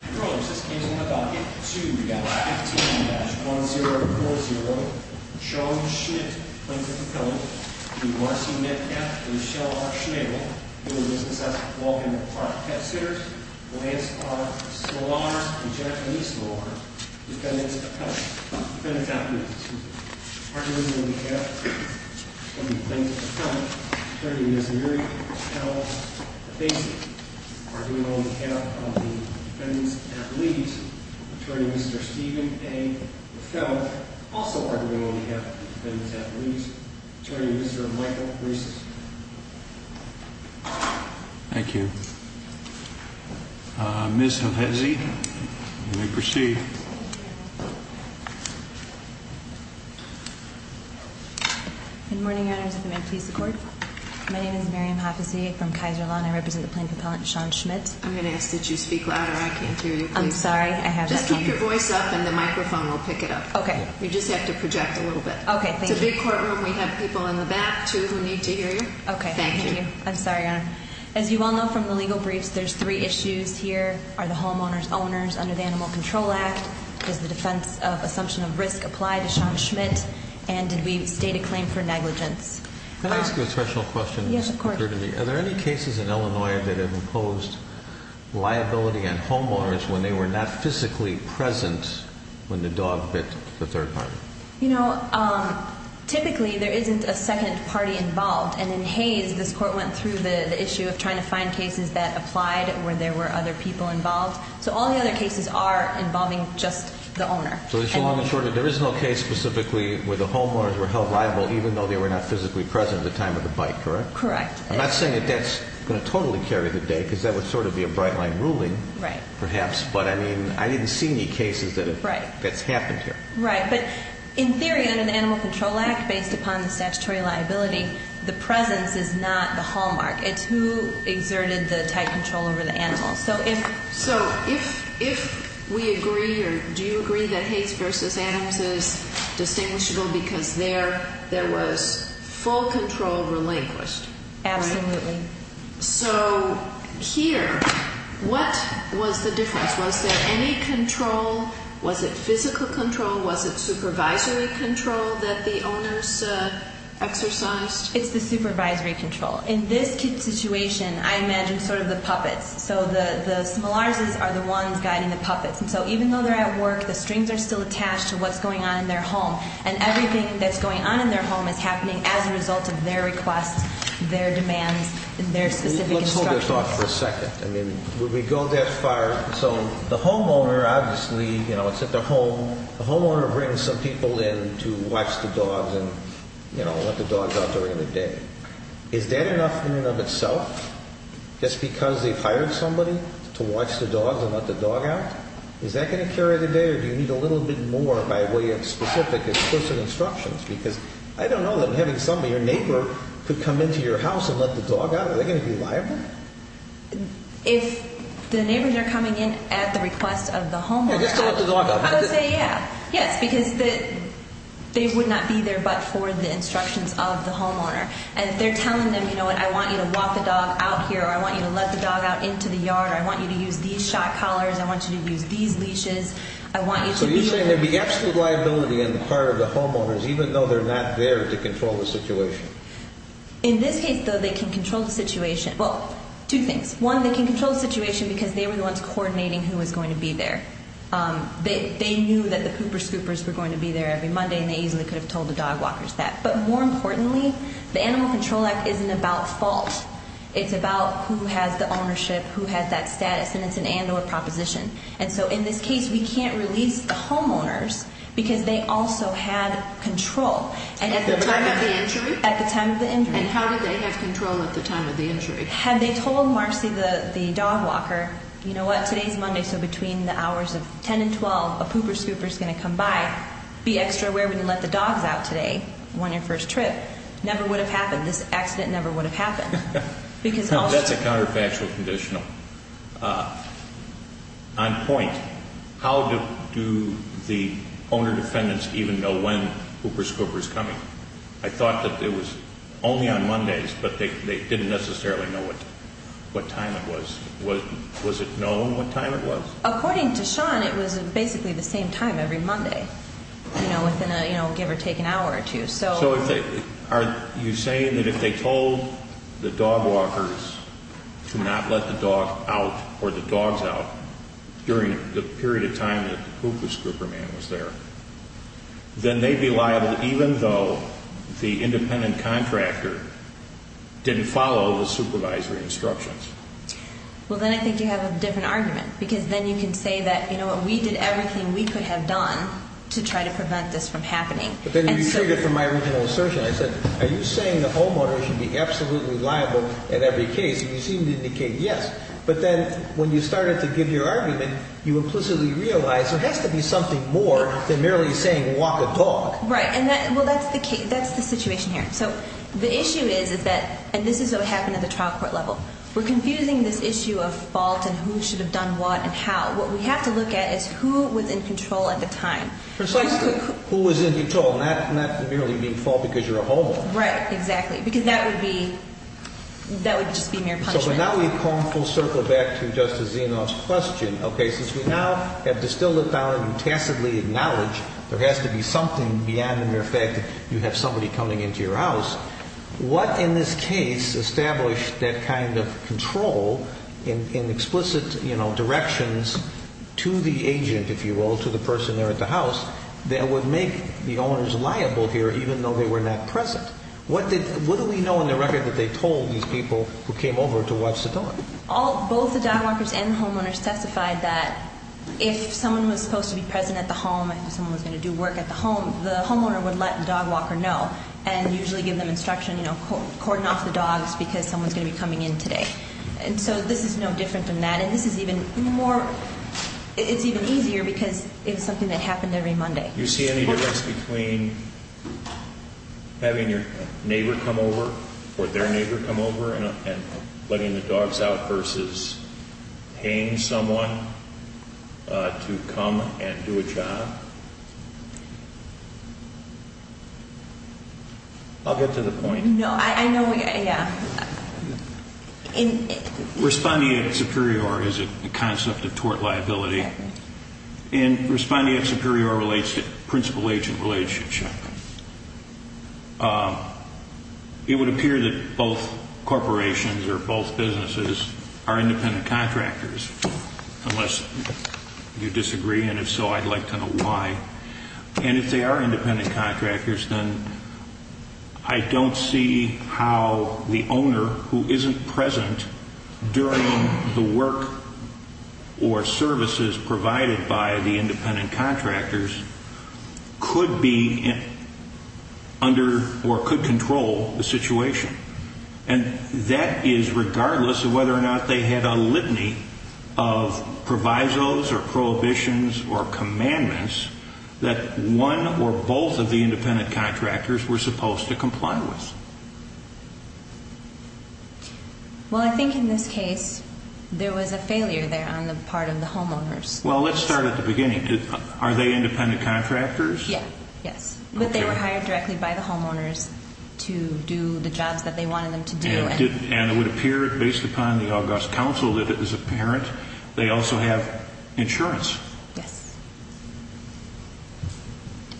Controllers, this case in my docket, 2-15-1040, Sean Schmit, Plaintiff-Appellant, v. Marcy Metcalf, Michelle R. Schnabel, U.S.S. Walden Park, Pet Sitters, Lance Clark, Soloners, and Jacqueline Soloners, Defendants-Appellants. Arguing on behalf of the Plaintiff-Appellant, Attorney Ms. Mary L. Hevesi. Arguing on behalf of the Defendants-Appellees, Attorney Mr. Stephen A. LaFelle. Also arguing on behalf of the Defendants-Appellees, Attorney Mr. Michael Reese. Thank you. Ms. Hevesi, you may proceed. Good morning, Your Honors. May I please have the floor? My name is Miriam Hevesi from Kaiser Law, and I represent the Plaintiff-Appellant, Sean Schmit. I'm going to ask that you speak louder. I can't hear you. I'm sorry. I have that camera. Just keep your voice up, and the microphone will pick it up. Okay. You just have to project a little bit. Okay. Thank you. In the big courtroom, we have people in the back, too, who need to hear you. Okay. Thank you. I'm sorry, Your Honor. As you all know from the legal briefs, there's three issues here. Are the homeowners owners under the Animal Control Act? Does the defense of assumption of risk apply to Sean Schmidt? And did we state a claim for negligence? Can I ask you a special question? Yes, of course. Are there any cases in Illinois that have imposed liability on homeowners when they were not physically present when the dog bit the third party? You know, typically, there isn't a second party involved. And in Hayes, this court went through the issue of trying to find cases that applied where there were other people involved. So all the other cases are involving just the owner. So, in short, there is no case specifically where the homeowners were held liable even though they were not physically present at the time of the bite, correct? Correct. I'm not saying that that's going to totally carry the day because that would sort of be a bright line ruling perhaps. Right. But, I mean, I didn't see any cases that that's happened here. Right. But, in theory, under the Animal Control Act, based upon the statutory liability, the presence is not the hallmark. It's who exerted the tight control over the animal. So if we agree or do you agree that Hayes v. Adams is distinguishable because there was full control relinquished? Absolutely. So here, what was the difference? Was there any control? Was it physical control? Was it supervisory control that the owners exercised? It's the supervisory control. In this situation, I imagine sort of the puppets. So the similars are the ones guiding the puppets. And so even though they're at work, the strings are still attached to what's going on in their home. And everything that's going on in their home is happening as a result of their requests, their demands, their specific instructions. Let's hold this off for a second. I mean, would we go that far? So the homeowner, obviously, you know, it's at the home. The homeowner brings some people in to watch the dogs and, you know, let the dogs out during the day. Is that enough in and of itself, just because they've hired somebody to watch the dogs and let the dog out? Is that going to carry the day, or do you need a little bit more by way of specific, explicit instructions? Because I don't know that having somebody, your neighbor, could come into your house and let the dog out. Are they going to be liable? If the neighbors are coming in at the request of the homeowner, I would say, yeah, yes, because they would not be there but for the instructions of the homeowner. And if they're telling them, you know what, I want you to walk the dog out here, or I want you to let the dog out into the yard, or I want you to use these shot collars, I want you to use these leashes, I want you to be able to do that. So you're saying there would be absolute liability on the part of the homeowners, even though they're not there to control the situation? Well, two things. One, they can control the situation because they were the ones coordinating who was going to be there. They knew that the pooper scoopers were going to be there every Monday, and they easily could have told the dog walkers that. But more importantly, the Animal Control Act isn't about fault. It's about who has the ownership, who has that status, and it's an and or proposition. And so in this case, we can't release the homeowners because they also had control. At the time of the injury. And how did they have control at the time of the injury? Had they told Marcy, the dog walker, you know what, today's Monday, so between the hours of 10 and 12, a pooper scooper is going to come by. Be extra aware we didn't let the dogs out today on your first trip. Never would have happened. This accident never would have happened. That's a counterfactual conditional. On point, how do the owner defendants even know when a pooper scooper is coming? I thought that it was only on Mondays, but they didn't necessarily know what time it was. Was it known what time it was? According to Sean, it was basically the same time every Monday, you know, within a, you know, give or take an hour or two. So are you saying that if they told the dog walkers to not let the dog out or the dogs out during the period of time that the pooper scooper man was there, then they'd be liable even though the independent contractor didn't follow the supervisory instructions? Well, then I think you have a different argument, because then you can say that, you know what, we did everything we could have done to try to prevent this from happening. But then you figured from my original assertion, I said, are you saying the homeowner should be absolutely liable in every case? And you seemed to indicate yes. But then when you started to give your argument, you implicitly realized there has to be something more than merely saying walk a dog. Right, and that's the situation here. So the issue is that, and this is what happened at the trial court level, we're confusing this issue of fault and who should have done what and how. What we have to look at is who was in control at the time. Precisely, who was in control, not merely being fault because you're a homeowner. Right, exactly, because that would be, that would just be mere punishment. So now we've come full circle back to Justice Zinoff's question. Okay, since we now have distilled it down and tacitly acknowledge there has to be something beyond the mere fact that you have somebody coming into your house, what in this case established that kind of control in explicit directions to the agent, if you will, to the person there at the house, that would make the owners liable here even though they were not present? What do we know in the record that they told these people who came over to watch the dog? Both the dog walkers and the homeowners testified that if someone was supposed to be present at the home and someone was going to do work at the home, the homeowner would let the dog walker know and usually give them instruction, you know, cordon off the dogs because someone's going to be coming in today. And so this is no different than that. And this is even more, it's even easier because it's something that happened every Monday. Do you see any difference between having your neighbor come over or their neighbor come over and letting the dogs out versus paying someone to come and do a job? I'll get to the point. No, I know, yeah. Responding at Superior is a concept of tort liability. And responding at Superior relates to principal-agent relationship. It would appear that both corporations or both businesses are independent contractors, unless you disagree. And if so, I'd like to know why. And if they are independent contractors, then I don't see how the owner who isn't present during the work or services provided by the independent contractors could be under or could control the situation. And that is regardless of whether or not they had a litany of provisos or prohibitions or commandments that one or both of the independent contractors were supposed to comply with. Well, I think in this case there was a failure there on the part of the homeowners. Well, let's start at the beginning. Are they independent contractors? Yes. But they were hired directly by the homeowners to do the jobs that they wanted them to do. And it would appear based upon the August Council that it was apparent they also have insurance. Yes.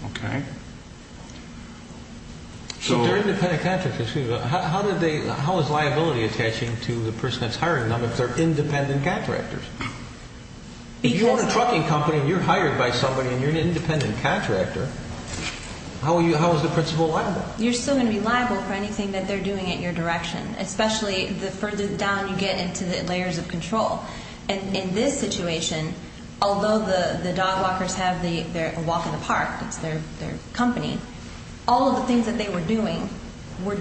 Okay. So they're independent contractors. How is liability attaching to the person that's hiring them if they're independent contractors? If you own a trucking company and you're hired by somebody and you're an independent contractor, how is the principal liable? You're still going to be liable for anything that they're doing in your direction, especially the further down you get into the layers of control. And in this situation, although the dog walkers have their walk in the park, it's their company, all of the things that they were doing were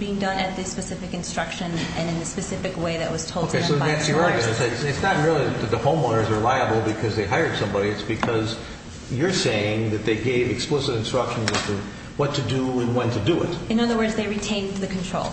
being done at the specific instruction and in the specific way that was told to them by the owners. So that's your argument. It's not really that the homeowners are liable because they hired somebody. It's because you're saying that they gave explicit instructions as to what to do and when to do it. In other words, they retained the control.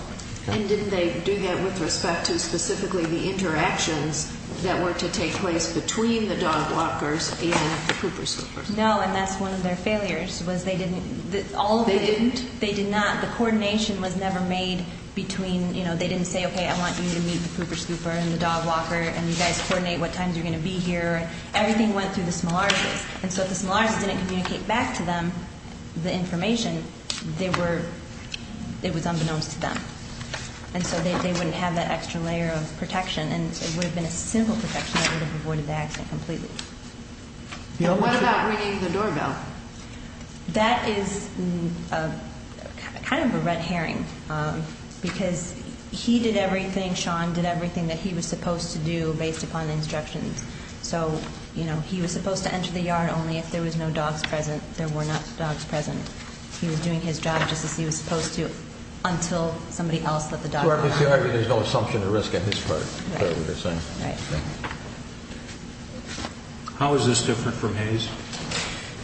And didn't they do that with respect to specifically the interactions that were to take place between the dog walkers and the pooper scoopers? No, and that's one of their failures was they didn't. They didn't? They did not. The coordination was never made between, they didn't say, okay, I want you to meet the pooper scooper and the dog walker and you guys coordinate what times you're going to be here. Everything went through the small artists. And so if the small artists didn't communicate back to them the information, it was unbeknownst to them. And so they wouldn't have that extra layer of protection. And it would have been a simple protection that would have avoided the accident completely. What about ringing the doorbell? That is kind of a red herring because he did everything, Sean did everything that he was supposed to do based upon the instructions. So, you know, he was supposed to enter the yard only if there was no dogs present. There were not dogs present. He was doing his job just as he was supposed to until somebody else let the dog out. There's no assumption of risk on his part. Right. How is this different from Hayes?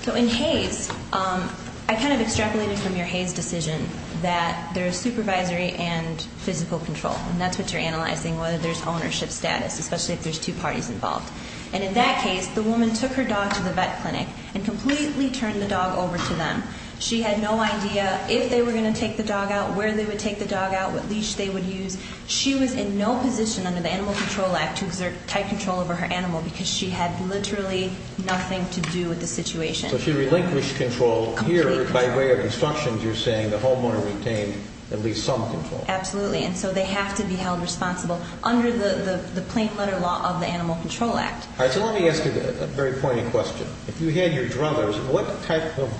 So in Hayes, I kind of extrapolated from your Hayes decision that there is supervisory and physical control. And that's what you're analyzing, whether there's ownership status, especially if there's two parties involved. And in that case, the woman took her dog to the vet clinic and completely turned the dog over to them. She had no idea if they were going to take the dog out, where they would take the dog out, what leash they would use. She was in no position under the Animal Control Act to exert tight control over her animal because she had literally nothing to do with the situation. So she relinquished control here by way of instructions. You're saying the homeowner retained at least some control. Absolutely. And so they have to be held responsible under the plain letter law of the Animal Control Act. All right. So let me ask you a very pointed question. If you had your druthers, what type of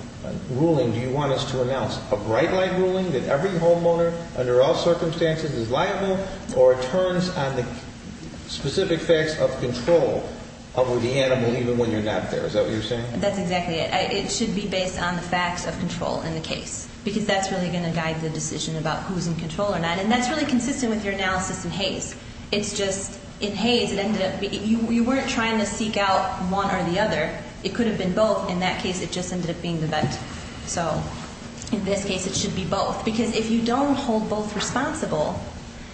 ruling do you want us to announce? A bright light ruling that every homeowner under all circumstances is liable or turns on the specific facts of control over the animal even when you're not there? Is that what you're saying? That's exactly it. It should be based on the facts of control in the case because that's really going to guide the decision about who's in control or not. And that's really consistent with your analysis in Hayes. You weren't trying to seek out one or the other. It could have been both. In that case, it just ended up being the vet. So in this case, it should be both because if you don't hold both responsible,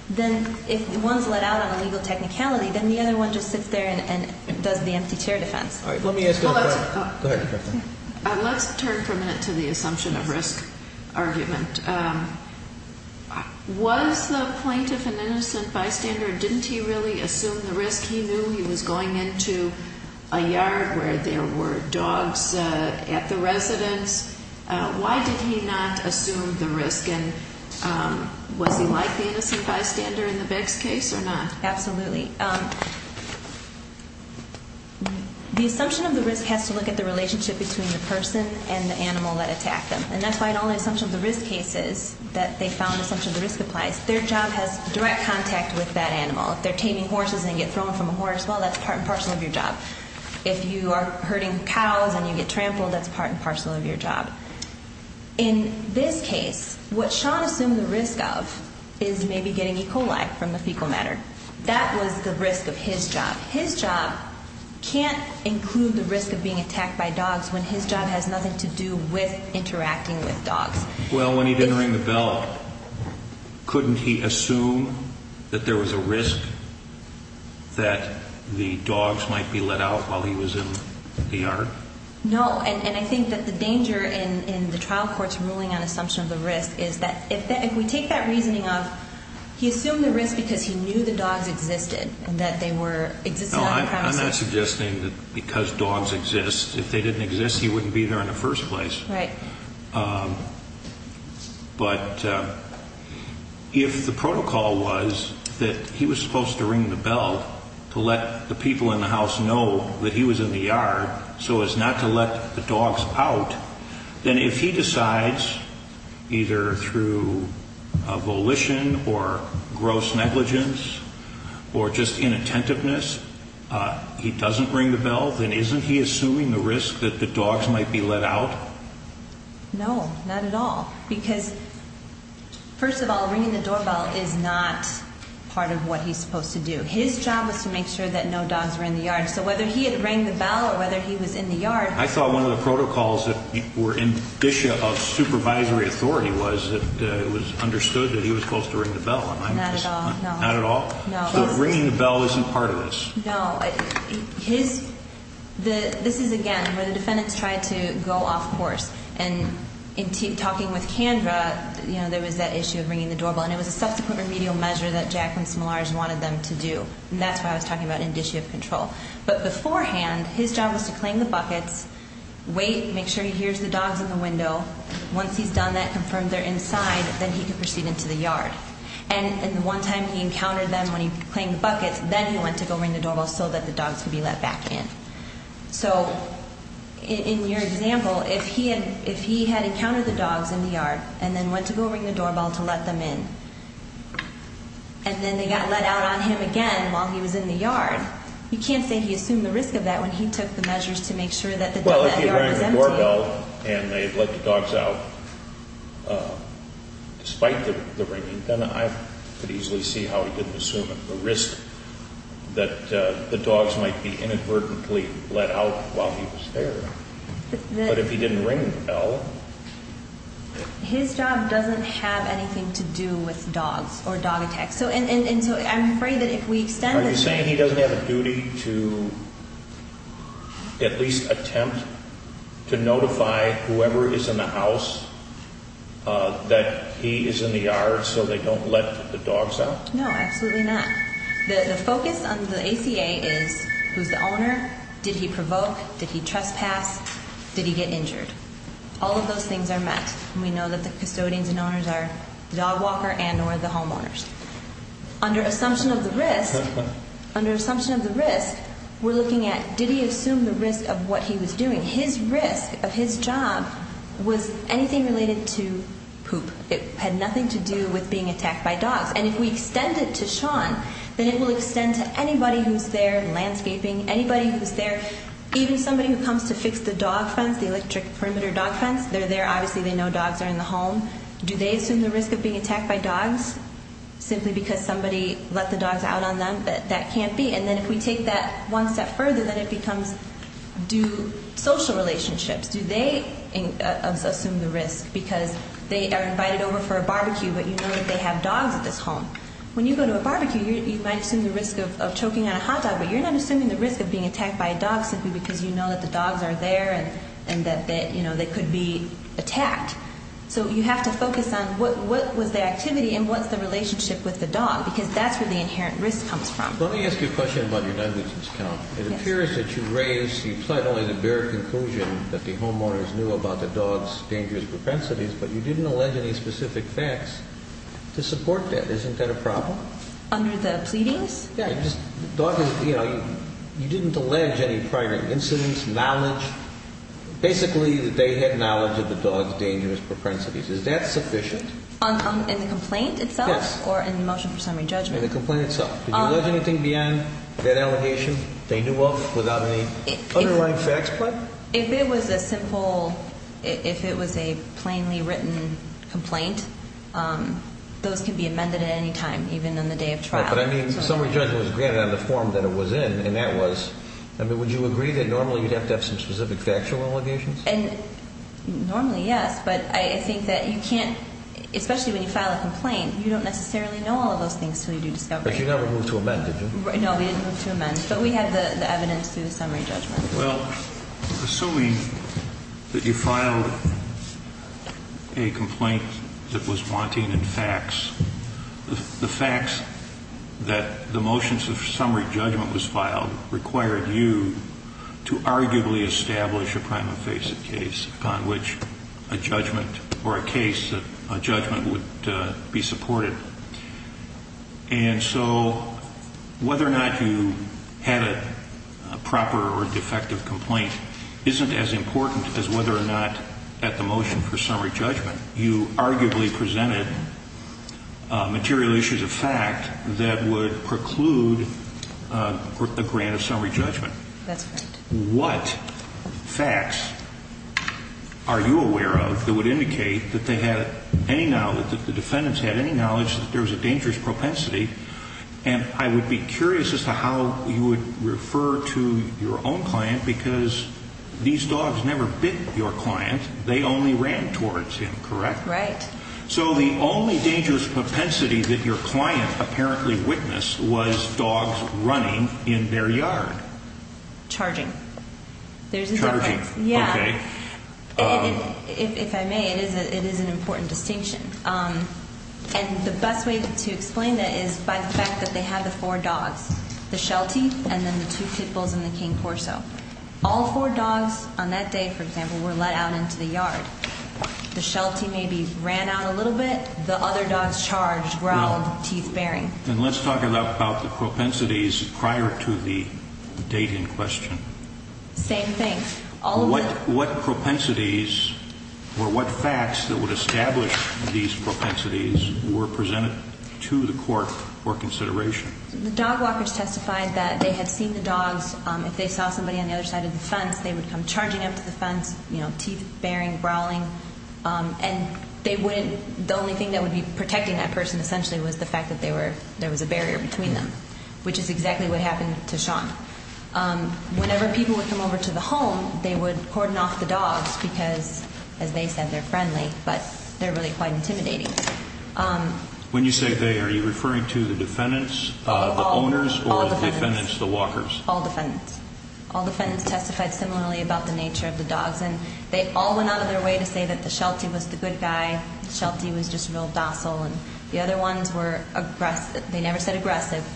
then if one's let out on illegal technicality, then the other one just sits there and does the empty chair defense. All right. Let me ask you a question. Go ahead. Let's turn for a minute to the assumption of risk argument. Was the plaintiff an innocent bystander or didn't he really assume the risk? He knew he was going into a yard where there were dogs at the residence. Why did he not assume the risk? And was he like the innocent bystander in the Beck's case or not? Absolutely. The assumption of the risk has to look at the relationship between the person and the animal that attacked them. And that's why the only assumption of the risk case is that they found the assumption of the risk applies. Their job has direct contact with that animal. If they're taming horses and get thrown from a horse, well, that's part and parcel of your job. If you are herding cows and you get trampled, that's part and parcel of your job. In this case, what Sean assumed the risk of is maybe getting E. coli from the fecal matter. That was the risk of his job. His job can't include the risk of being attacked by dogs when his job has nothing to do with interacting with dogs. Well, when he didn't ring the bell, couldn't he assume that there was a risk that the dogs might be let out while he was in the yard? No, and I think that the danger in the trial court's ruling on assumption of the risk is that if we take that reasoning of he assumed the risk because he knew the dogs existed and that they existed on the premises. No, I'm not suggesting that because dogs exist, if they didn't exist, he wouldn't be there in the first place. Right. But if the protocol was that he was supposed to ring the bell to let the people in the house know that he was in the yard so as not to let the dogs out, then if he decides either through volition or gross negligence or just inattentiveness, he doesn't ring the bell, then isn't he assuming the risk that the dogs might be let out? No, not at all, because first of all, ringing the doorbell is not part of what he's supposed to do. His job was to make sure that no dogs were in the yard. So whether he had rang the bell or whether he was in the yard. I thought one of the protocols that were in dissue of supervisory authority was that it was understood that he was supposed to ring the bell. Not at all. Not at all? No. So ringing the bell isn't part of this? No. This is, again, where the defendants tried to go off course. And in talking with Kandra, there was that issue of ringing the doorbell. And it was a subsequent remedial measure that Jacqueline Smolarz wanted them to do. And that's what I was talking about in dissue of control. But beforehand, his job was to claim the buckets, wait, make sure he hears the dogs in the window. Once he's done that, confirmed they're inside, then he could proceed into the yard. And the one time he encountered them when he claimed the buckets, then he went to go ring the doorbell so that the dogs could be let back in. So in your example, if he had encountered the dogs in the yard and then went to go ring the doorbell to let them in, and then they got let out on him again while he was in the yard, you can't say he assumed the risk of that when he took the measures to make sure that the yard was empty. Well, if he had rang the doorbell and they had let the dogs out despite the ringing, then I could easily see how he didn't assume the risk that the dogs might be inadvertently let out while he was there. But if he didn't ring the bell? His job doesn't have anything to do with dogs or dog attacks. And so I'm afraid that if we extend it to… Are you saying he doesn't have a duty to at least attempt to notify whoever is in the house that he is in the yard so they don't let the dogs out? No, absolutely not. The focus on the ACA is who's the owner, did he provoke, did he trespass, did he get injured? All of those things are met, and we know that the custodians and owners are the dog walker and or the homeowners. Under assumption of the risk, we're looking at did he assume the risk of what he was doing? His risk of his job was anything related to poop. It had nothing to do with being attacked by dogs. And if we extend it to Sean, then it will extend to anybody who's there, landscaping, anybody who's there, even somebody who comes to fix the dog fence, the electric perimeter dog fence. They're there, obviously they know dogs are in the home. Do they assume the risk of being attacked by dogs simply because somebody let the dogs out on them? That can't be. And then if we take that one step further, then it becomes do social relationships, do they assume the risk because they are invited over for a barbecue but you know that they have dogs at this home? When you go to a barbecue, you might assume the risk of choking on a hot dog, but you're not assuming the risk of being attacked by a dog simply because you know that the dogs are there and that, you know, they could be attacked. So you have to focus on what was their activity and what's the relationship with the dog because that's where the inherent risk comes from. Let me ask you a question about your negligence count. It appears that you raised, you plied only the bare conclusion that the homeowners knew about the dog's dangerous propensities, but you didn't allege any specific facts to support that. Isn't that a problem? Under the pleadings? Yeah. You know, you didn't allege any prior incidents, knowledge, basically that they had knowledge of the dog's dangerous propensities. Is that sufficient? In the complaint itself? Yes. Or in the motion for summary judgment? In the complaint itself. Did you allege anything beyond that allegation they knew of without any underlying facts plied? If it was a simple, if it was a plainly written complaint, those can be amended at any time, even on the day of trial. But I mean, summary judgment was granted on the form that it was in, and that was, I mean, would you agree that normally you'd have to have some specific factual allegations? Normally, yes, but I think that you can't, especially when you file a complaint, you don't necessarily know all of those things until you do discovery. But you never moved to amend, did you? No, we didn't move to amend, but we have the evidence through the summary judgment. Well, assuming that you filed a complaint that was wanting facts, the facts that the motions of summary judgment was filed required you to arguably establish a prime invasive case upon which a judgment or a case that a judgment would be supported. And so whether or not you had a proper or defective complaint isn't as important as whether or not at the motion for summary judgment you arguably presented material issues of fact that would preclude a grant of summary judgment. That's right. What facts are you aware of that would indicate that they had any knowledge, that the defendants had any knowledge that there was a dangerous propensity? And I would be curious as to how you would refer to your own client, because these dogs never bit your client. They only ran towards him, correct? Right. So the only dangerous propensity that your client apparently witnessed was dogs running in their yard. Charging. Charging. Yeah. Okay. If I may, it is an important distinction. And the best way to explain that is by the fact that they had the four dogs, the Sheltie and then the two pit bulls and the King Corso. All four dogs on that day, for example, were let out into the yard. The Sheltie maybe ran out a little bit. The other dogs charged, growled, teeth bearing. And let's talk about the propensities prior to the date in question. Same thing. What propensities or what facts that would establish these propensities were presented to the court for consideration? The dog walkers testified that they had seen the dogs. If they saw somebody on the other side of the fence, they would come charging up to the fence, teeth bearing, growling. And the only thing that would be protecting that person essentially was the fact that there was a barrier between them, which is exactly what happened to Sean. Whenever people would come over to the home, they would cordon off the dogs because, as they said, they're friendly, but they're really quite intimidating. When you say they, are you referring to the defendants, the owners, or the defendants, the walkers? All defendants. All defendants testified similarly about the nature of the dogs. And they all went out of their way to say that the Sheltie was the good guy, Sheltie was just real docile, and the other ones were aggressive. They never said aggressive.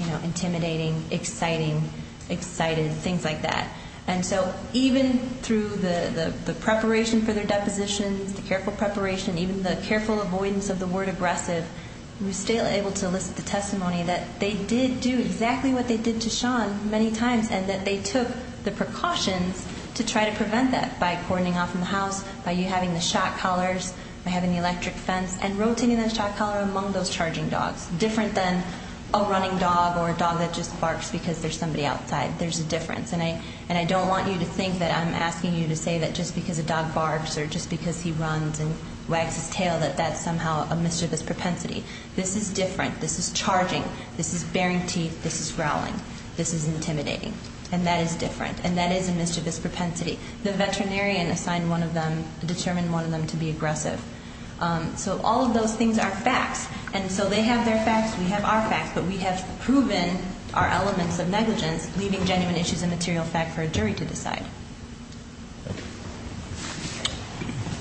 You know, intimidating, exciting, excited, things like that. And so even through the preparation for their depositions, the careful preparation, even the careful avoidance of the word aggressive, we were still able to elicit the testimony that they did do exactly what they did to Sean many times, and that they took the precautions to try to prevent that by cordoning off in the house, by you having the shot collars, by having the electric fence, and rotating that shot collar among those charging dogs, different than a running dog or a dog that just barks because there's somebody outside. There's a difference. And I don't want you to think that I'm asking you to say that just because a dog barks or just because he runs and wags his tail that that's somehow a mischievous propensity. This is different. This is charging. This is baring teeth. This is growling. This is intimidating. And that is different. And that is a mischievous propensity. The veterinarian assigned one of them, determined one of them to be aggressive. And so they have their facts. We have our facts. But we have proven our elements of negligence, leaving genuine issues of material fact for a jury to decide.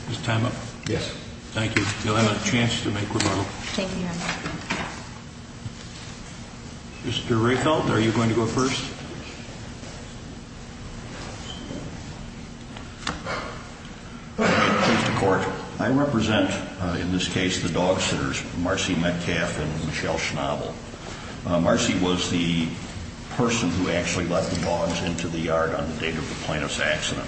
Is time up? Yes. Thank you. You'll have a chance to make rebuttal. Thank you, Your Honor. Mr. Rehfeld, are you going to go first? Please. Thank you, Your Honor. I represent, in this case, the dog sitters, Marcy Metcalf and Michelle Schnabel. Marcy was the person who actually let the dogs into the yard on the date of the plaintiff's accident.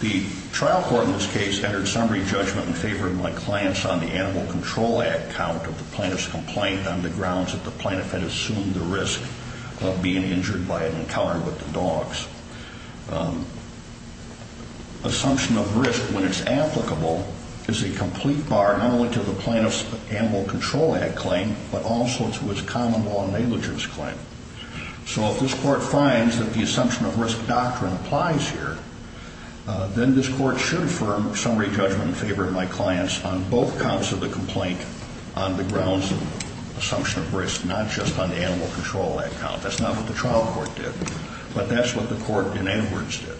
The trial court in this case entered summary judgment in favor of my clients on the Animal Control Act count of the plaintiff's complaint on the grounds that the plaintiff had assumed the risk of being injured by an encounter with the dogs. Assumption of risk, when it's applicable, is a complete bar not only to the plaintiff's Animal Control Act claim, but also to its common law negligence claim. So if this court finds that the assumption of risk doctrine applies here, then this court should affirm summary judgment in favor of my clients on both counts of the complaint on the grounds of assumption of risk, not just on the Animal Control Act count. That's not what the trial court did, but that's what the court, in any words, did.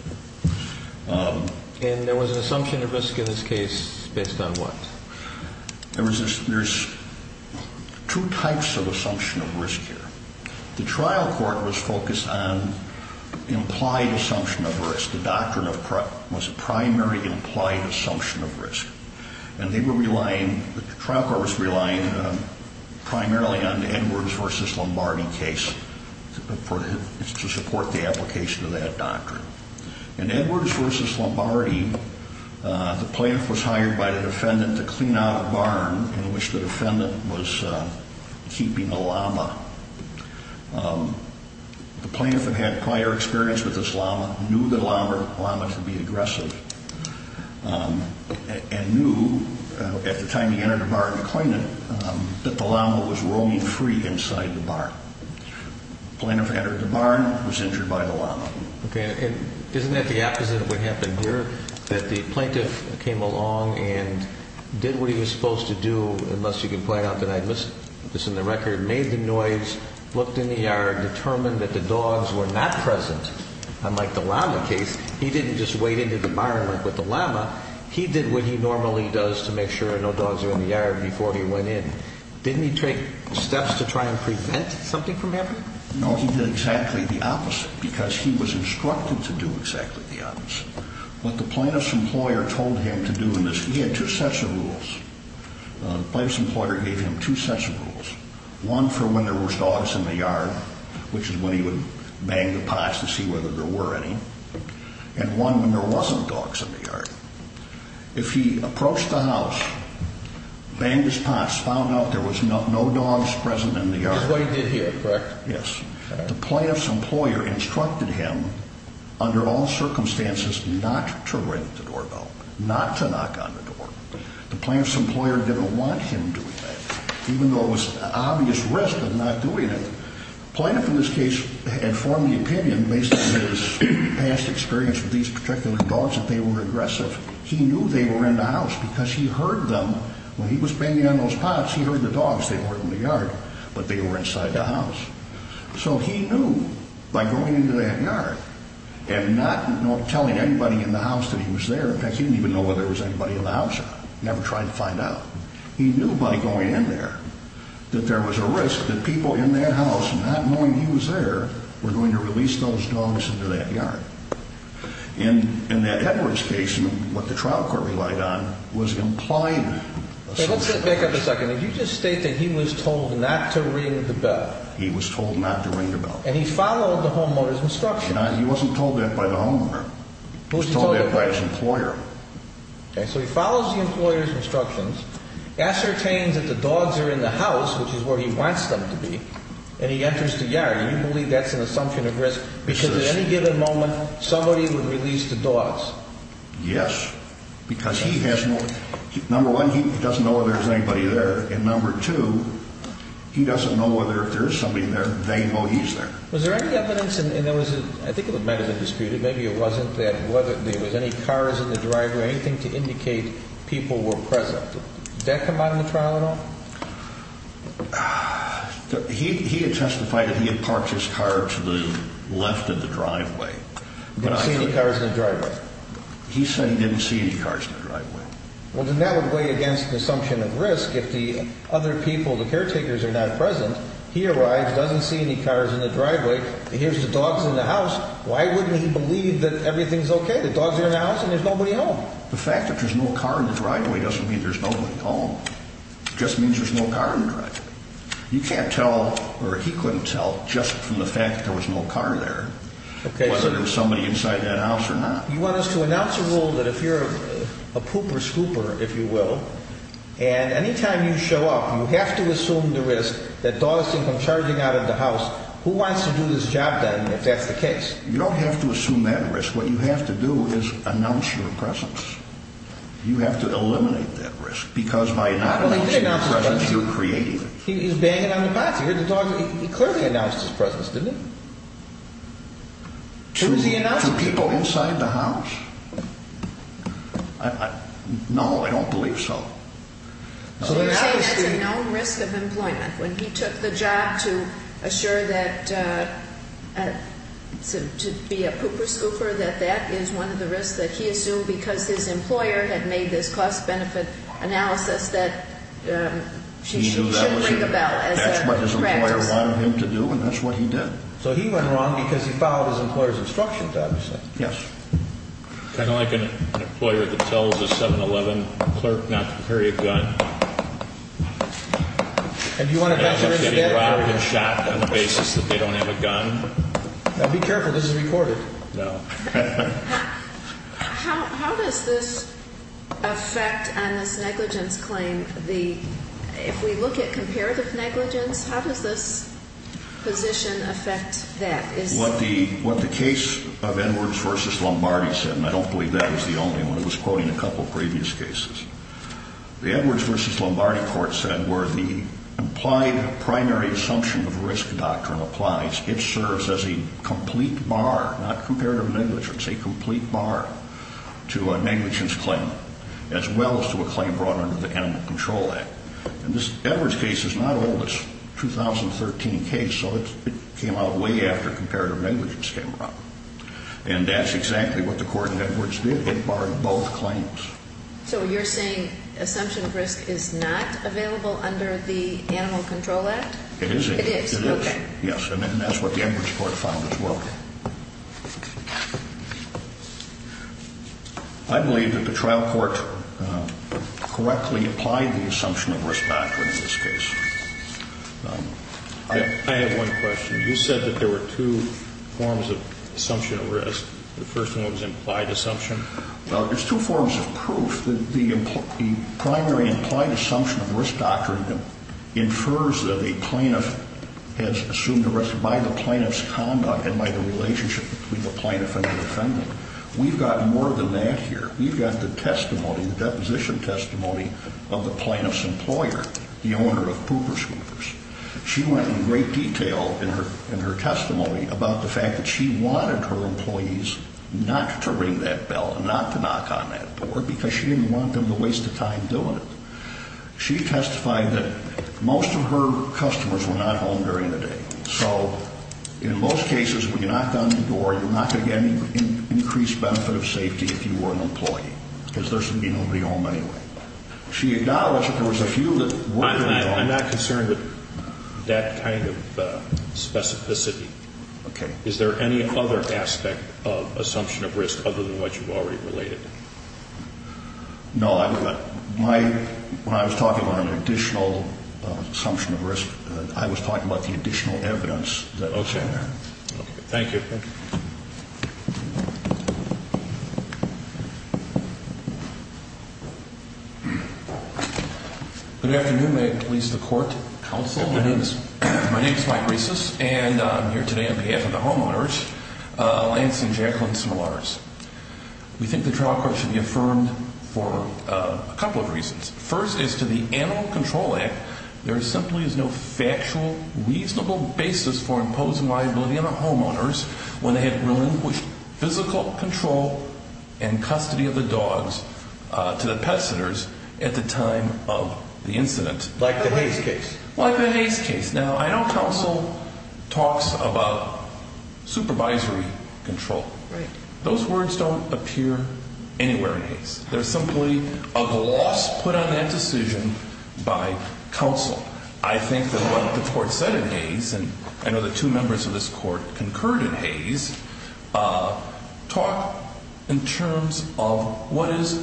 And there was an assumption of risk in this case based on what? There's two types of assumption of risk here. The trial court was focused on implied assumption of risk. The doctrine was primary implied assumption of risk. And they were relying, the trial court was relying primarily on the Edwards v. Lombardi case to support the application of that doctrine. In Edwards v. Lombardi, the plaintiff was hired by the defendant to clean out a barn in which the defendant was keeping a llama. The plaintiff had had prior experience with this llama, knew that llamas would be aggressive, and knew at the time he entered the barn to clean it that the llama was roaming free inside the barn. The plaintiff entered the barn, was injured by the llama. Okay, and isn't that the opposite of what happened here, that the plaintiff came along and did what he was supposed to do, unless you can point out that I missed this in the record, made the noise, looked in the yard, determined that the dogs were not present, unlike the llama case. He didn't just wade into the barn like with the llama. He did what he normally does to make sure no dogs are in the yard before he went in. Didn't he take steps to try and prevent something from happening? No, he did exactly the opposite because he was instructed to do exactly the opposite. What the plaintiff's employer told him to do in this, he had two sets of rules. The plaintiff's employer gave him two sets of rules. One for when there was dogs in the yard, which is when he would bang the pots to see whether there were any, and one when there wasn't dogs in the yard. If he approached the house, banged his pots, found out there was no dogs present in the yard. Which is what he did here, correct? Yes. The plaintiff's employer instructed him, under all circumstances, not to ring the doorbell, not to knock on the door. The plaintiff's employer didn't want him doing that, even though it was an obvious risk of not doing it. The plaintiff in this case had formed the opinion, based on his past experience with these particular dogs, that they were aggressive. He knew they were in the house because he heard them. When he was banging on those pots, he heard the dogs. They weren't in the yard, but they were inside the house. So he knew by going into that yard and not telling anybody in the house that he was there. In fact, he didn't even know whether there was anybody in the house at all. He never tried to find out. He knew by going in there that there was a risk that people in that house, not knowing he was there, were going to release those dogs into that yard. In that Edwards case, what the trial court relied on was employment. Let's back up a second. Did you just state that he was told not to ring the bell? He was told not to ring the bell. And he followed the homeowner's instructions. He wasn't told that by the homeowner. He was told that by his employer. Okay. So he follows the employer's instructions, ascertains that the dogs are in the house, which is where he wants them to be, and he enters the yard. Do you believe that's an assumption of risk because at any given moment somebody would release the dogs? Yes, because he has no idea. Number one, he doesn't know whether there's anybody there. And number two, he doesn't know whether if there is somebody there, they know he's there. Was there any evidence? And there was a – I think it was meted and disputed. Maybe it wasn't that – whether there was any cars in the driveway, anything to indicate people were present. Did that come out in the trial at all? He had testified that he had parked his car to the left of the driveway. Didn't see any cars in the driveway. He's saying he didn't see any cars in the driveway. Well, then that would weigh against the assumption of risk. If the other people, the caretakers, are not present, he arrives, doesn't see any cars in the driveway, hears the dogs in the house, why wouldn't he believe that everything's okay, the dogs are in the house and there's nobody home? The fact that there's no car in the driveway doesn't mean there's nobody home. It just means there's no car in the driveway. You can't tell – or he couldn't tell just from the fact that there was no car there whether there was somebody inside that house or not. You want us to announce a rule that if you're a pooper scooper, if you will, and anytime you show up, you have to assume the risk that dogs can come charging out of the house. Who wants to do this job, then, if that's the case? You don't have to assume that risk. What you have to do is announce your presence. You have to eliminate that risk because by not announcing your presence, you're creating it. He's banging on the pot. He heard the dogs. To people inside the house? No, I don't believe so. So you're saying that's a known risk of employment. When he took the job to assure that – to be a pooper scooper, that that is one of the risks that he assumed because his employer had made this cost-benefit analysis that he shouldn't ring the bell as a practice. That's what his employer wanted him to do, and that's what he did. So he went wrong because he followed his employer's instructions, obviously. Yes. Kind of like an employer that tells a 7-Eleven clerk not to carry a gun. And do you want to address the risk of that? If they get shot on the basis that they don't have a gun. Now, be careful. This is recorded. No. How does this affect on this negligence claim the – if we look at comparative negligence, how does this position affect that? What the case of Edwards v. Lombardi said, and I don't believe that was the only one. It was quoted in a couple of previous cases. The Edwards v. Lombardi court said where the implied primary assumption of a risk doctrine applies, it serves as a complete bar, not comparative negligence, a complete bar to a negligence claim as well as to a claim brought under the Animal Control Act. And this Edwards case is not old. It's a 2013 case, so it came out way after comparative negligence came around. And that's exactly what the court in Edwards did. It barred both claims. So you're saying assumption of risk is not available under the Animal Control Act? It is. It is. Okay. Yes, and that's what the Edwards court found as well. I believe that the trial court correctly applied the assumption of risk doctrine in this case. I have one question. You said that there were two forms of assumption of risk. The first one was implied assumption. Well, there's two forms of proof. The primary implied assumption of risk doctrine infers that a plaintiff has assumed a risk by the plaintiff's conduct and by the relationship between the plaintiff and the defendant. We've got more than that here. We've got the testimony, the deposition testimony of the plaintiff's employer, the owner of Pooper Scoopers. She went in great detail in her testimony about the fact that she wanted her employees not to ring that bell and not to knock on that door because she didn't want them to waste the time doing it. She testified that most of her customers were not home during the day. So in most cases, when you knock on the door, you're not going to get any increased benefit of safety if you were an employee because there's going to be nobody home anyway. She acknowledged that there was a few that were. I'm not concerned with that kind of specificity. Okay. Is there any other aspect of assumption of risk other than what you've already related? No. When I was talking about an additional assumption of risk, I was talking about the additional evidence that was in there. Okay. Thank you. Good afternoon. May it please the court, counsel. Good afternoon. My name is Mike Reesus, and I'm here today on behalf of the homeowners, Lance and Jacqueline Smolars. We think the trial court should be affirmed for a couple of reasons. First is to the Animal Control Act, there simply is no factual, reasonable basis for imposing liability on the homeowners when they had relinquished physical control and custody of the dogs to the pet centers at the time of the incident. Like the Hayes case. Like the Hayes case. Now, I know counsel talks about supervisory control. Right. Those words don't appear anywhere in Hayes. They're simply a gloss put on that decision by counsel. I think that what the court said in Hayes, and I know the two members of this court concurred in Hayes, talk in terms of what is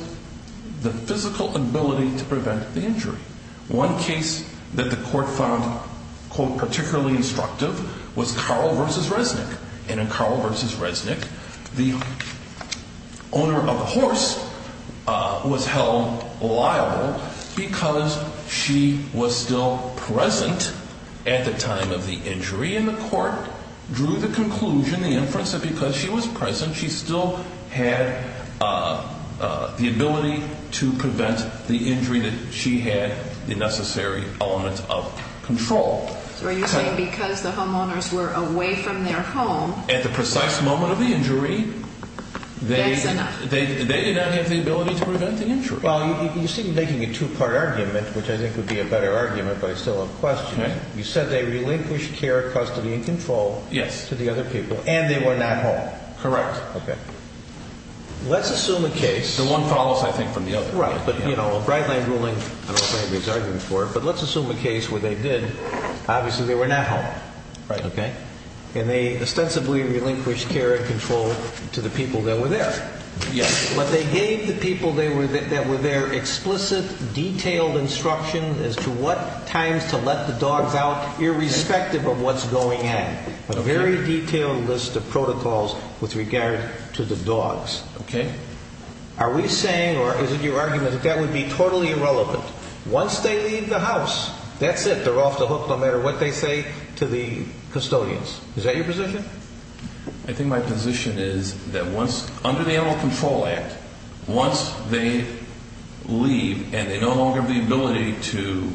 the physical ability to prevent the injury. One case that the court found, quote, particularly instructive, was Carl versus Resnick. And in Carl versus Resnick, the owner of the horse was held liable because she was still present at the time of the injury. And the court drew the conclusion, the inference, that because she was present, she still had the ability to prevent the injury that she had the necessary element of control. So are you saying because the homeowners were away from their home? At the precise moment of the injury, they did not have the ability to prevent the injury. Well, you seem to be making a two-part argument, which I think would be a better argument, but I still have questions. You said they relinquished care, custody, and control to the other people, and they were not home. Correct. Okay. Let's assume a case. The one follows, I think, from the other. Right. But, you know, a Brightline ruling, I don't know if anybody's arguing for it, but let's assume a case where they did. Obviously, they were not home. Right. Okay. And they ostensibly relinquished care and control to the people that were there. Yes. But they gave the people that were there explicit, detailed instruction as to what times to let the dogs out, irrespective of what's going on. Okay. A very detailed list of protocols with regard to the dogs. Okay. Are we saying, or is it your argument, that that would be totally irrelevant? Once they leave the house, that's it. They're off the hook no matter what they say to the custodians. Is that your position? I think my position is that once, under the Animal Control Act, once they leave and they no longer have the ability to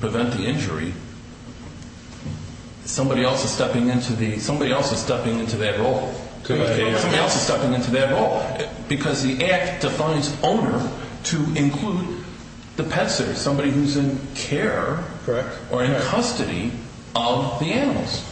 prevent the injury, somebody else is stepping into that role. Somebody else is stepping into that role. Because the Act defines owner to include the pet sitter, somebody who's in care or in custody of the animals.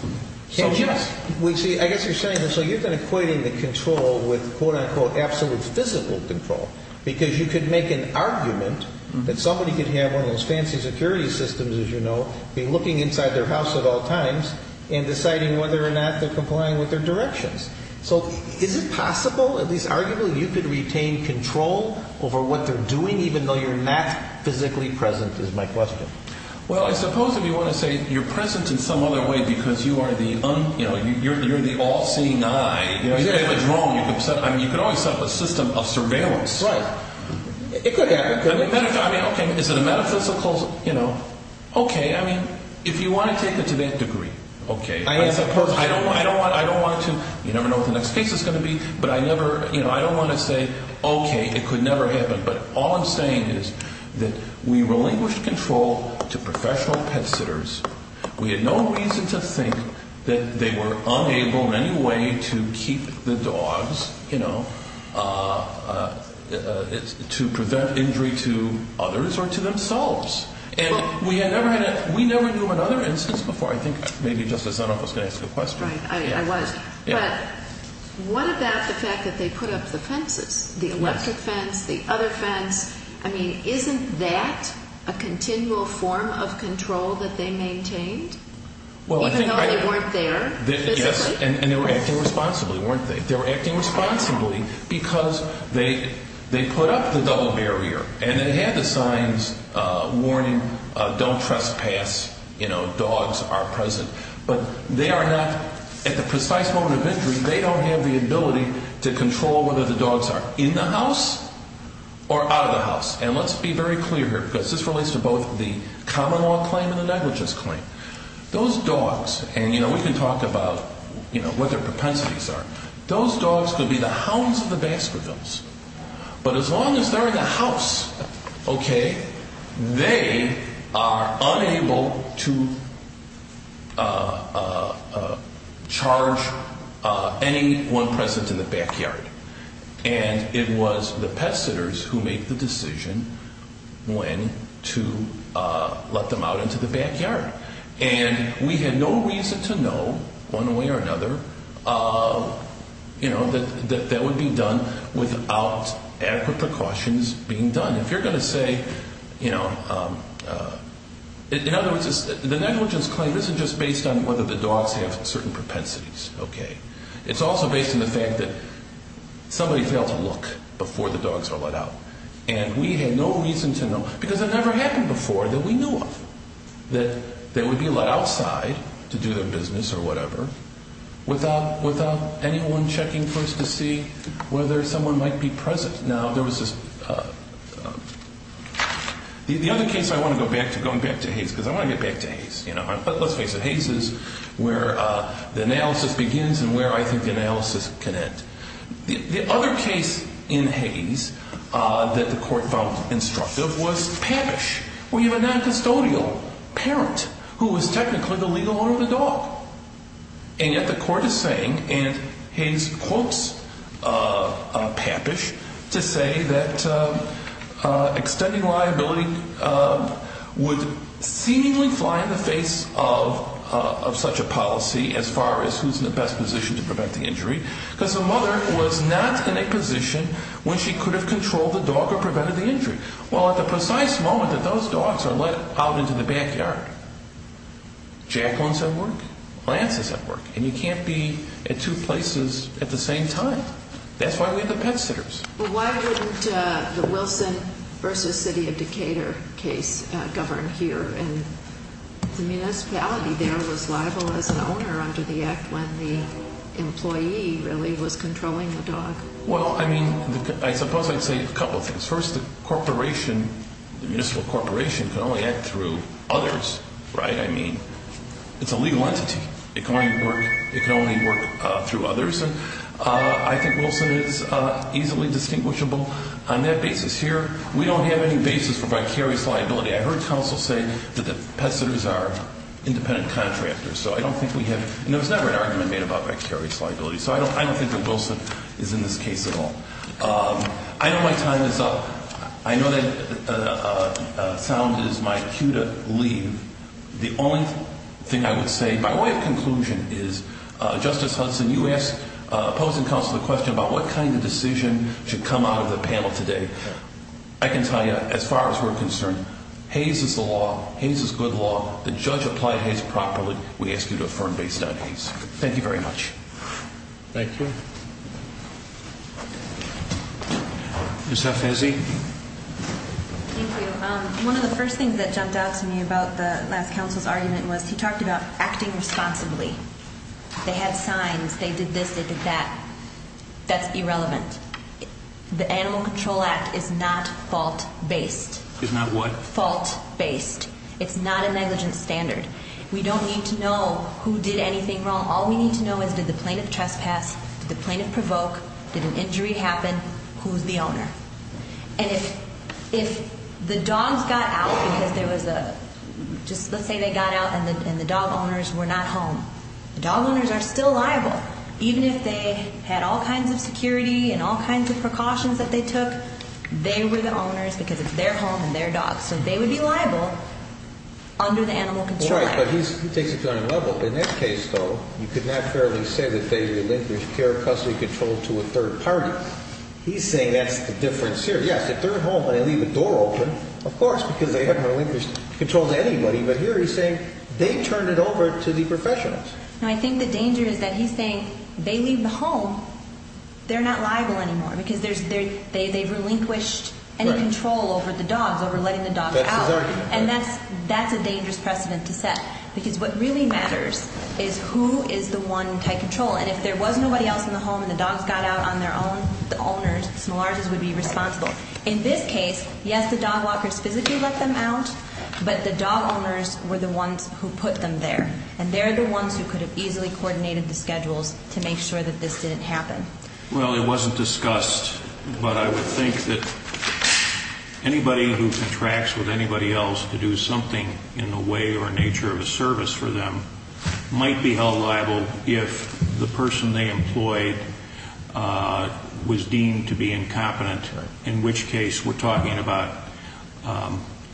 So, yes. See, I guess you're saying this, so you've been equating the control with, quote-unquote, absolute physical control. Because you could make an argument that somebody could have one of those fancy security systems, as you know, be looking inside their house at all times, and deciding whether or not they're complying with their directions. So, is it possible, at least arguably, you could retain control over what they're doing, even though you're not physically present, is my question. Well, I suppose if you want to say you're present in some other way because you are the all-seeing eye, you could always set up a system of surveillance. That's right. It could happen. I mean, okay, is it a metaphysical, you know, okay. I mean, if you want to take it to that degree, okay. I suppose. I don't want to. You never know what the next case is going to be. But I never, you know, I don't want to say, okay, it could never happen. But all I'm saying is that we relinquished control to professional pet sitters. We had no reason to think that they were unable in any way to keep the dogs, you know, to prevent injury to others or to themselves. And we never knew of another instance before. I think maybe Justice Dunoff was going to ask the question. Right. I was. But what about the fact that they put up the fences, the electric fence, the other fence? I mean, isn't that a continual form of control that they maintained even though they weren't there physically? Yes. And they were acting responsibly, weren't they? They were acting responsibly because they put up the double barrier. And they had the signs warning don't trespass. You know, dogs are present. But they are not at the precise moment of injury. They don't have the ability to control whether the dogs are in the house or out of the house. And let's be very clear here because this relates to both the common law claim and the negligence claim. Those dogs, and, you know, we can talk about, you know, what their propensities are. Those dogs could be the hounds of the Baskervilles. But as long as they're in the house, okay, they are unable to charge anyone present to the backyard. And it was the pet sitters who made the decision when to let them out into the backyard. And we had no reason to know one way or another, you know, that that would be done without adequate precautions being done. If you're going to say, you know, in other words, the negligence claim isn't just based on whether the dogs have certain propensities, okay. It's also based on the fact that somebody failed to look before the dogs were let out. And we had no reason to know because it never happened before that we knew of that they would be let outside to do their business or whatever without anyone checking for us to see whether someone might be present. Now, there was this, the other case I want to go back to, going back to Hayes because I want to get back to Hayes, you know. But let's face it, Hayes is where the analysis begins and where I think the analysis can end. The other case in Hayes that the court found instructive was Pappish, where you have a noncustodial parent who was technically the legal owner of the dog. And yet the court is saying, and Hayes quotes Pappish to say that extending liability would seemingly fly in the face of such a policy as far as who's in the best position to prevent the injury. Because the mother was not in a position when she could have controlled the dog or prevented the injury. Well, at the precise moment that those dogs are let out into the backyard, Jacqueline's at work, Lance is at work. And you can't be at two places at the same time. That's why we have the pet sitters. Well, why wouldn't the Wilson v. City of Decatur case govern here? And the municipality there was liable as an owner under the act when the employee really was controlling the dog. Well, I mean, I suppose I'd say a couple things. First, the corporation, the municipal corporation can only act through others, right? I mean, it's a legal entity. It can only work through others. I think Wilson is easily distinguishable on that basis here. We don't have any basis for vicarious liability. I heard counsel say that the pet sitters are independent contractors. So I don't think we have, and there was never an argument made about vicarious liability. So I don't think that Wilson is in this case at all. I know my time is up. I know that sound is my cue to leave. The only thing I would say, my way of conclusion is, Justice Hudson, you asked opposing counsel the question about what kind of decision should come out of the panel today. I can tell you, as far as we're concerned, Hays is the law. Hays is good law. The judge applied Hays properly. We ask you to affirm based on Hays. Thank you very much. Thank you. Ms. Efezi? Thank you. One of the first things that jumped out to me about the last counsel's argument was he talked about acting responsibly. They had signs. They did this. They did that. That's irrelevant. The Animal Control Act is not fault-based. Is not what? Fault-based. It's not a negligence standard. We don't need to know who did anything wrong. All we need to know is did the plaintiff trespass, did the plaintiff provoke, did an injury happen, who's the owner? And if the dogs got out because there was a – just let's say they got out and the dog owners were not home, the dog owners are still liable, even if they had all kinds of security and all kinds of precautions that they took. They were the owners because it's their home and their dogs. So they would be liable under the Animal Control Act. Right, but he takes it to another level. In that case, though, you could not fairly say that they relinquished their custody control to a third party. He's saying that's the difference here. Yes, if they're at home and they leave the door open, of course, because they hadn't relinquished control to anybody. But here he's saying they turned it over to the professionals. And I think the danger is that he's saying they leave the home, they're not liable anymore because they've relinquished any control over the dogs, over letting the dogs out. That's his argument. And that's a dangerous precedent to set because what really matters is who is the one in tight control. And if there was nobody else in the home and the dogs got out on their own, the owners, the smallers, would be responsible. In this case, yes, the dog walkers physically let them out, but the dog owners were the ones who put them there. And they're the ones who could have easily coordinated the schedules to make sure that this didn't happen. Well, it wasn't discussed, but I would think that anybody who contracts with anybody else to do something in the way or nature of a service for them might be held liable if the person they employed was deemed to be incompetent, in which case we're talking about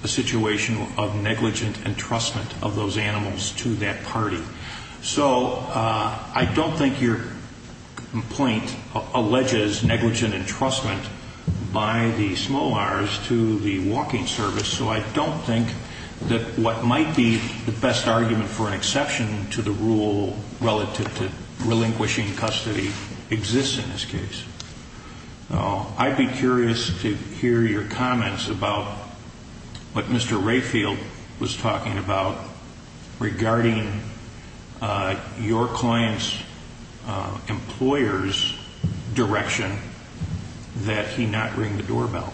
a situation of negligent entrustment of those animals to that party. So I don't think your complaint alleges negligent entrustment by the SMOARs to the walking service. So I don't think that what might be the best argument for an exception to the rule relative to relinquishing custody exists in this case. I'd be curious to hear your comments about what Mr. Rayfield was talking about regarding your client's employer's direction that he not ring the doorbell.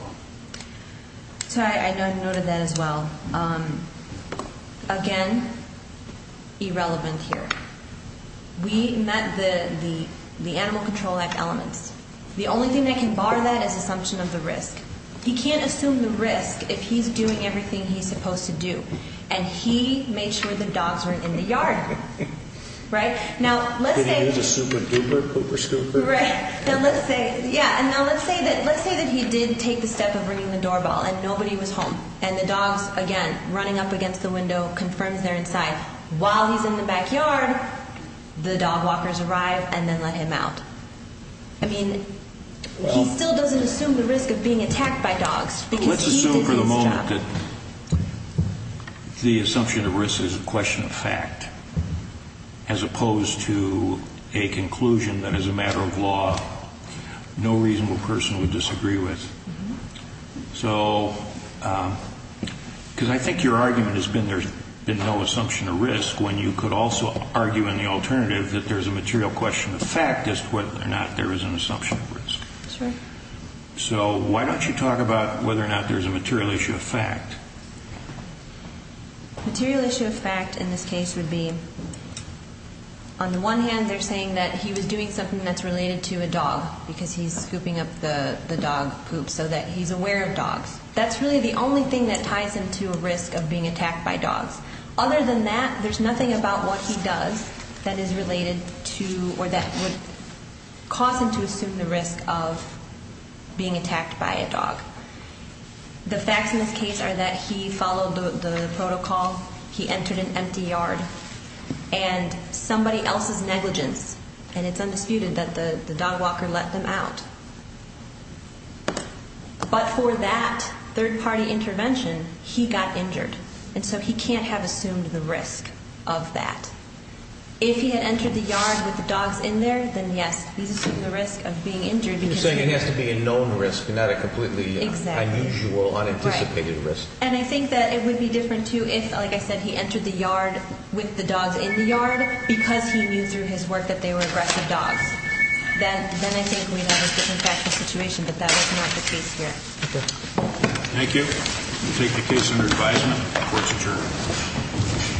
So I noted that as well. Again, irrelevant here. We met the Animal Control Act elements. The only thing that can bar that is assumption of the risk. He can't assume the risk if he's doing everything he's supposed to do, and he made sure the dogs weren't in the yard. Right? Now, let's say — Did he use a super duper, pooper scooper? Right. Now, let's say that he did take the step of ringing the doorbell and nobody was home, and the dogs, again, running up against the window confirms they're inside. While he's in the backyard, the dog walkers arrive and then let him out. I mean, he still doesn't assume the risk of being attacked by dogs because he did his job. The assumption of risk is a question of fact as opposed to a conclusion that as a matter of law no reasonable person would disagree with. So, because I think your argument has been there's been no assumption of risk when you could also argue in the alternative that there's a material question of fact as to whether or not there is an assumption of risk. That's right. So, why don't you talk about whether or not there's a material issue of fact? Material issue of fact in this case would be, on the one hand, they're saying that he was doing something that's related to a dog, because he's scooping up the dog poop so that he's aware of dogs. That's really the only thing that ties him to a risk of being attacked by dogs. Other than that, there's nothing about what he does that is related to or that would cause him to assume the risk of being attacked by a dog. The facts in this case are that he followed the protocol, he entered an empty yard, and somebody else's negligence, and it's undisputed that the dog walker let them out. But for that third-party intervention, he got injured. And so he can't have assumed the risk of that. If he had entered the yard with the dogs in there, then, yes, he's assuming the risk of being injured. You're saying it has to be a known risk and not a completely unusual, unanticipated risk. Right. And I think that it would be different, too, if, like I said, he entered the yard with the dogs in the yard because he knew through his work that they were aggressive dogs. Then I think we'd have a different factual situation, but that was not the case here. Okay. Thank you. We'll take the case under advisement. Court's adjourned.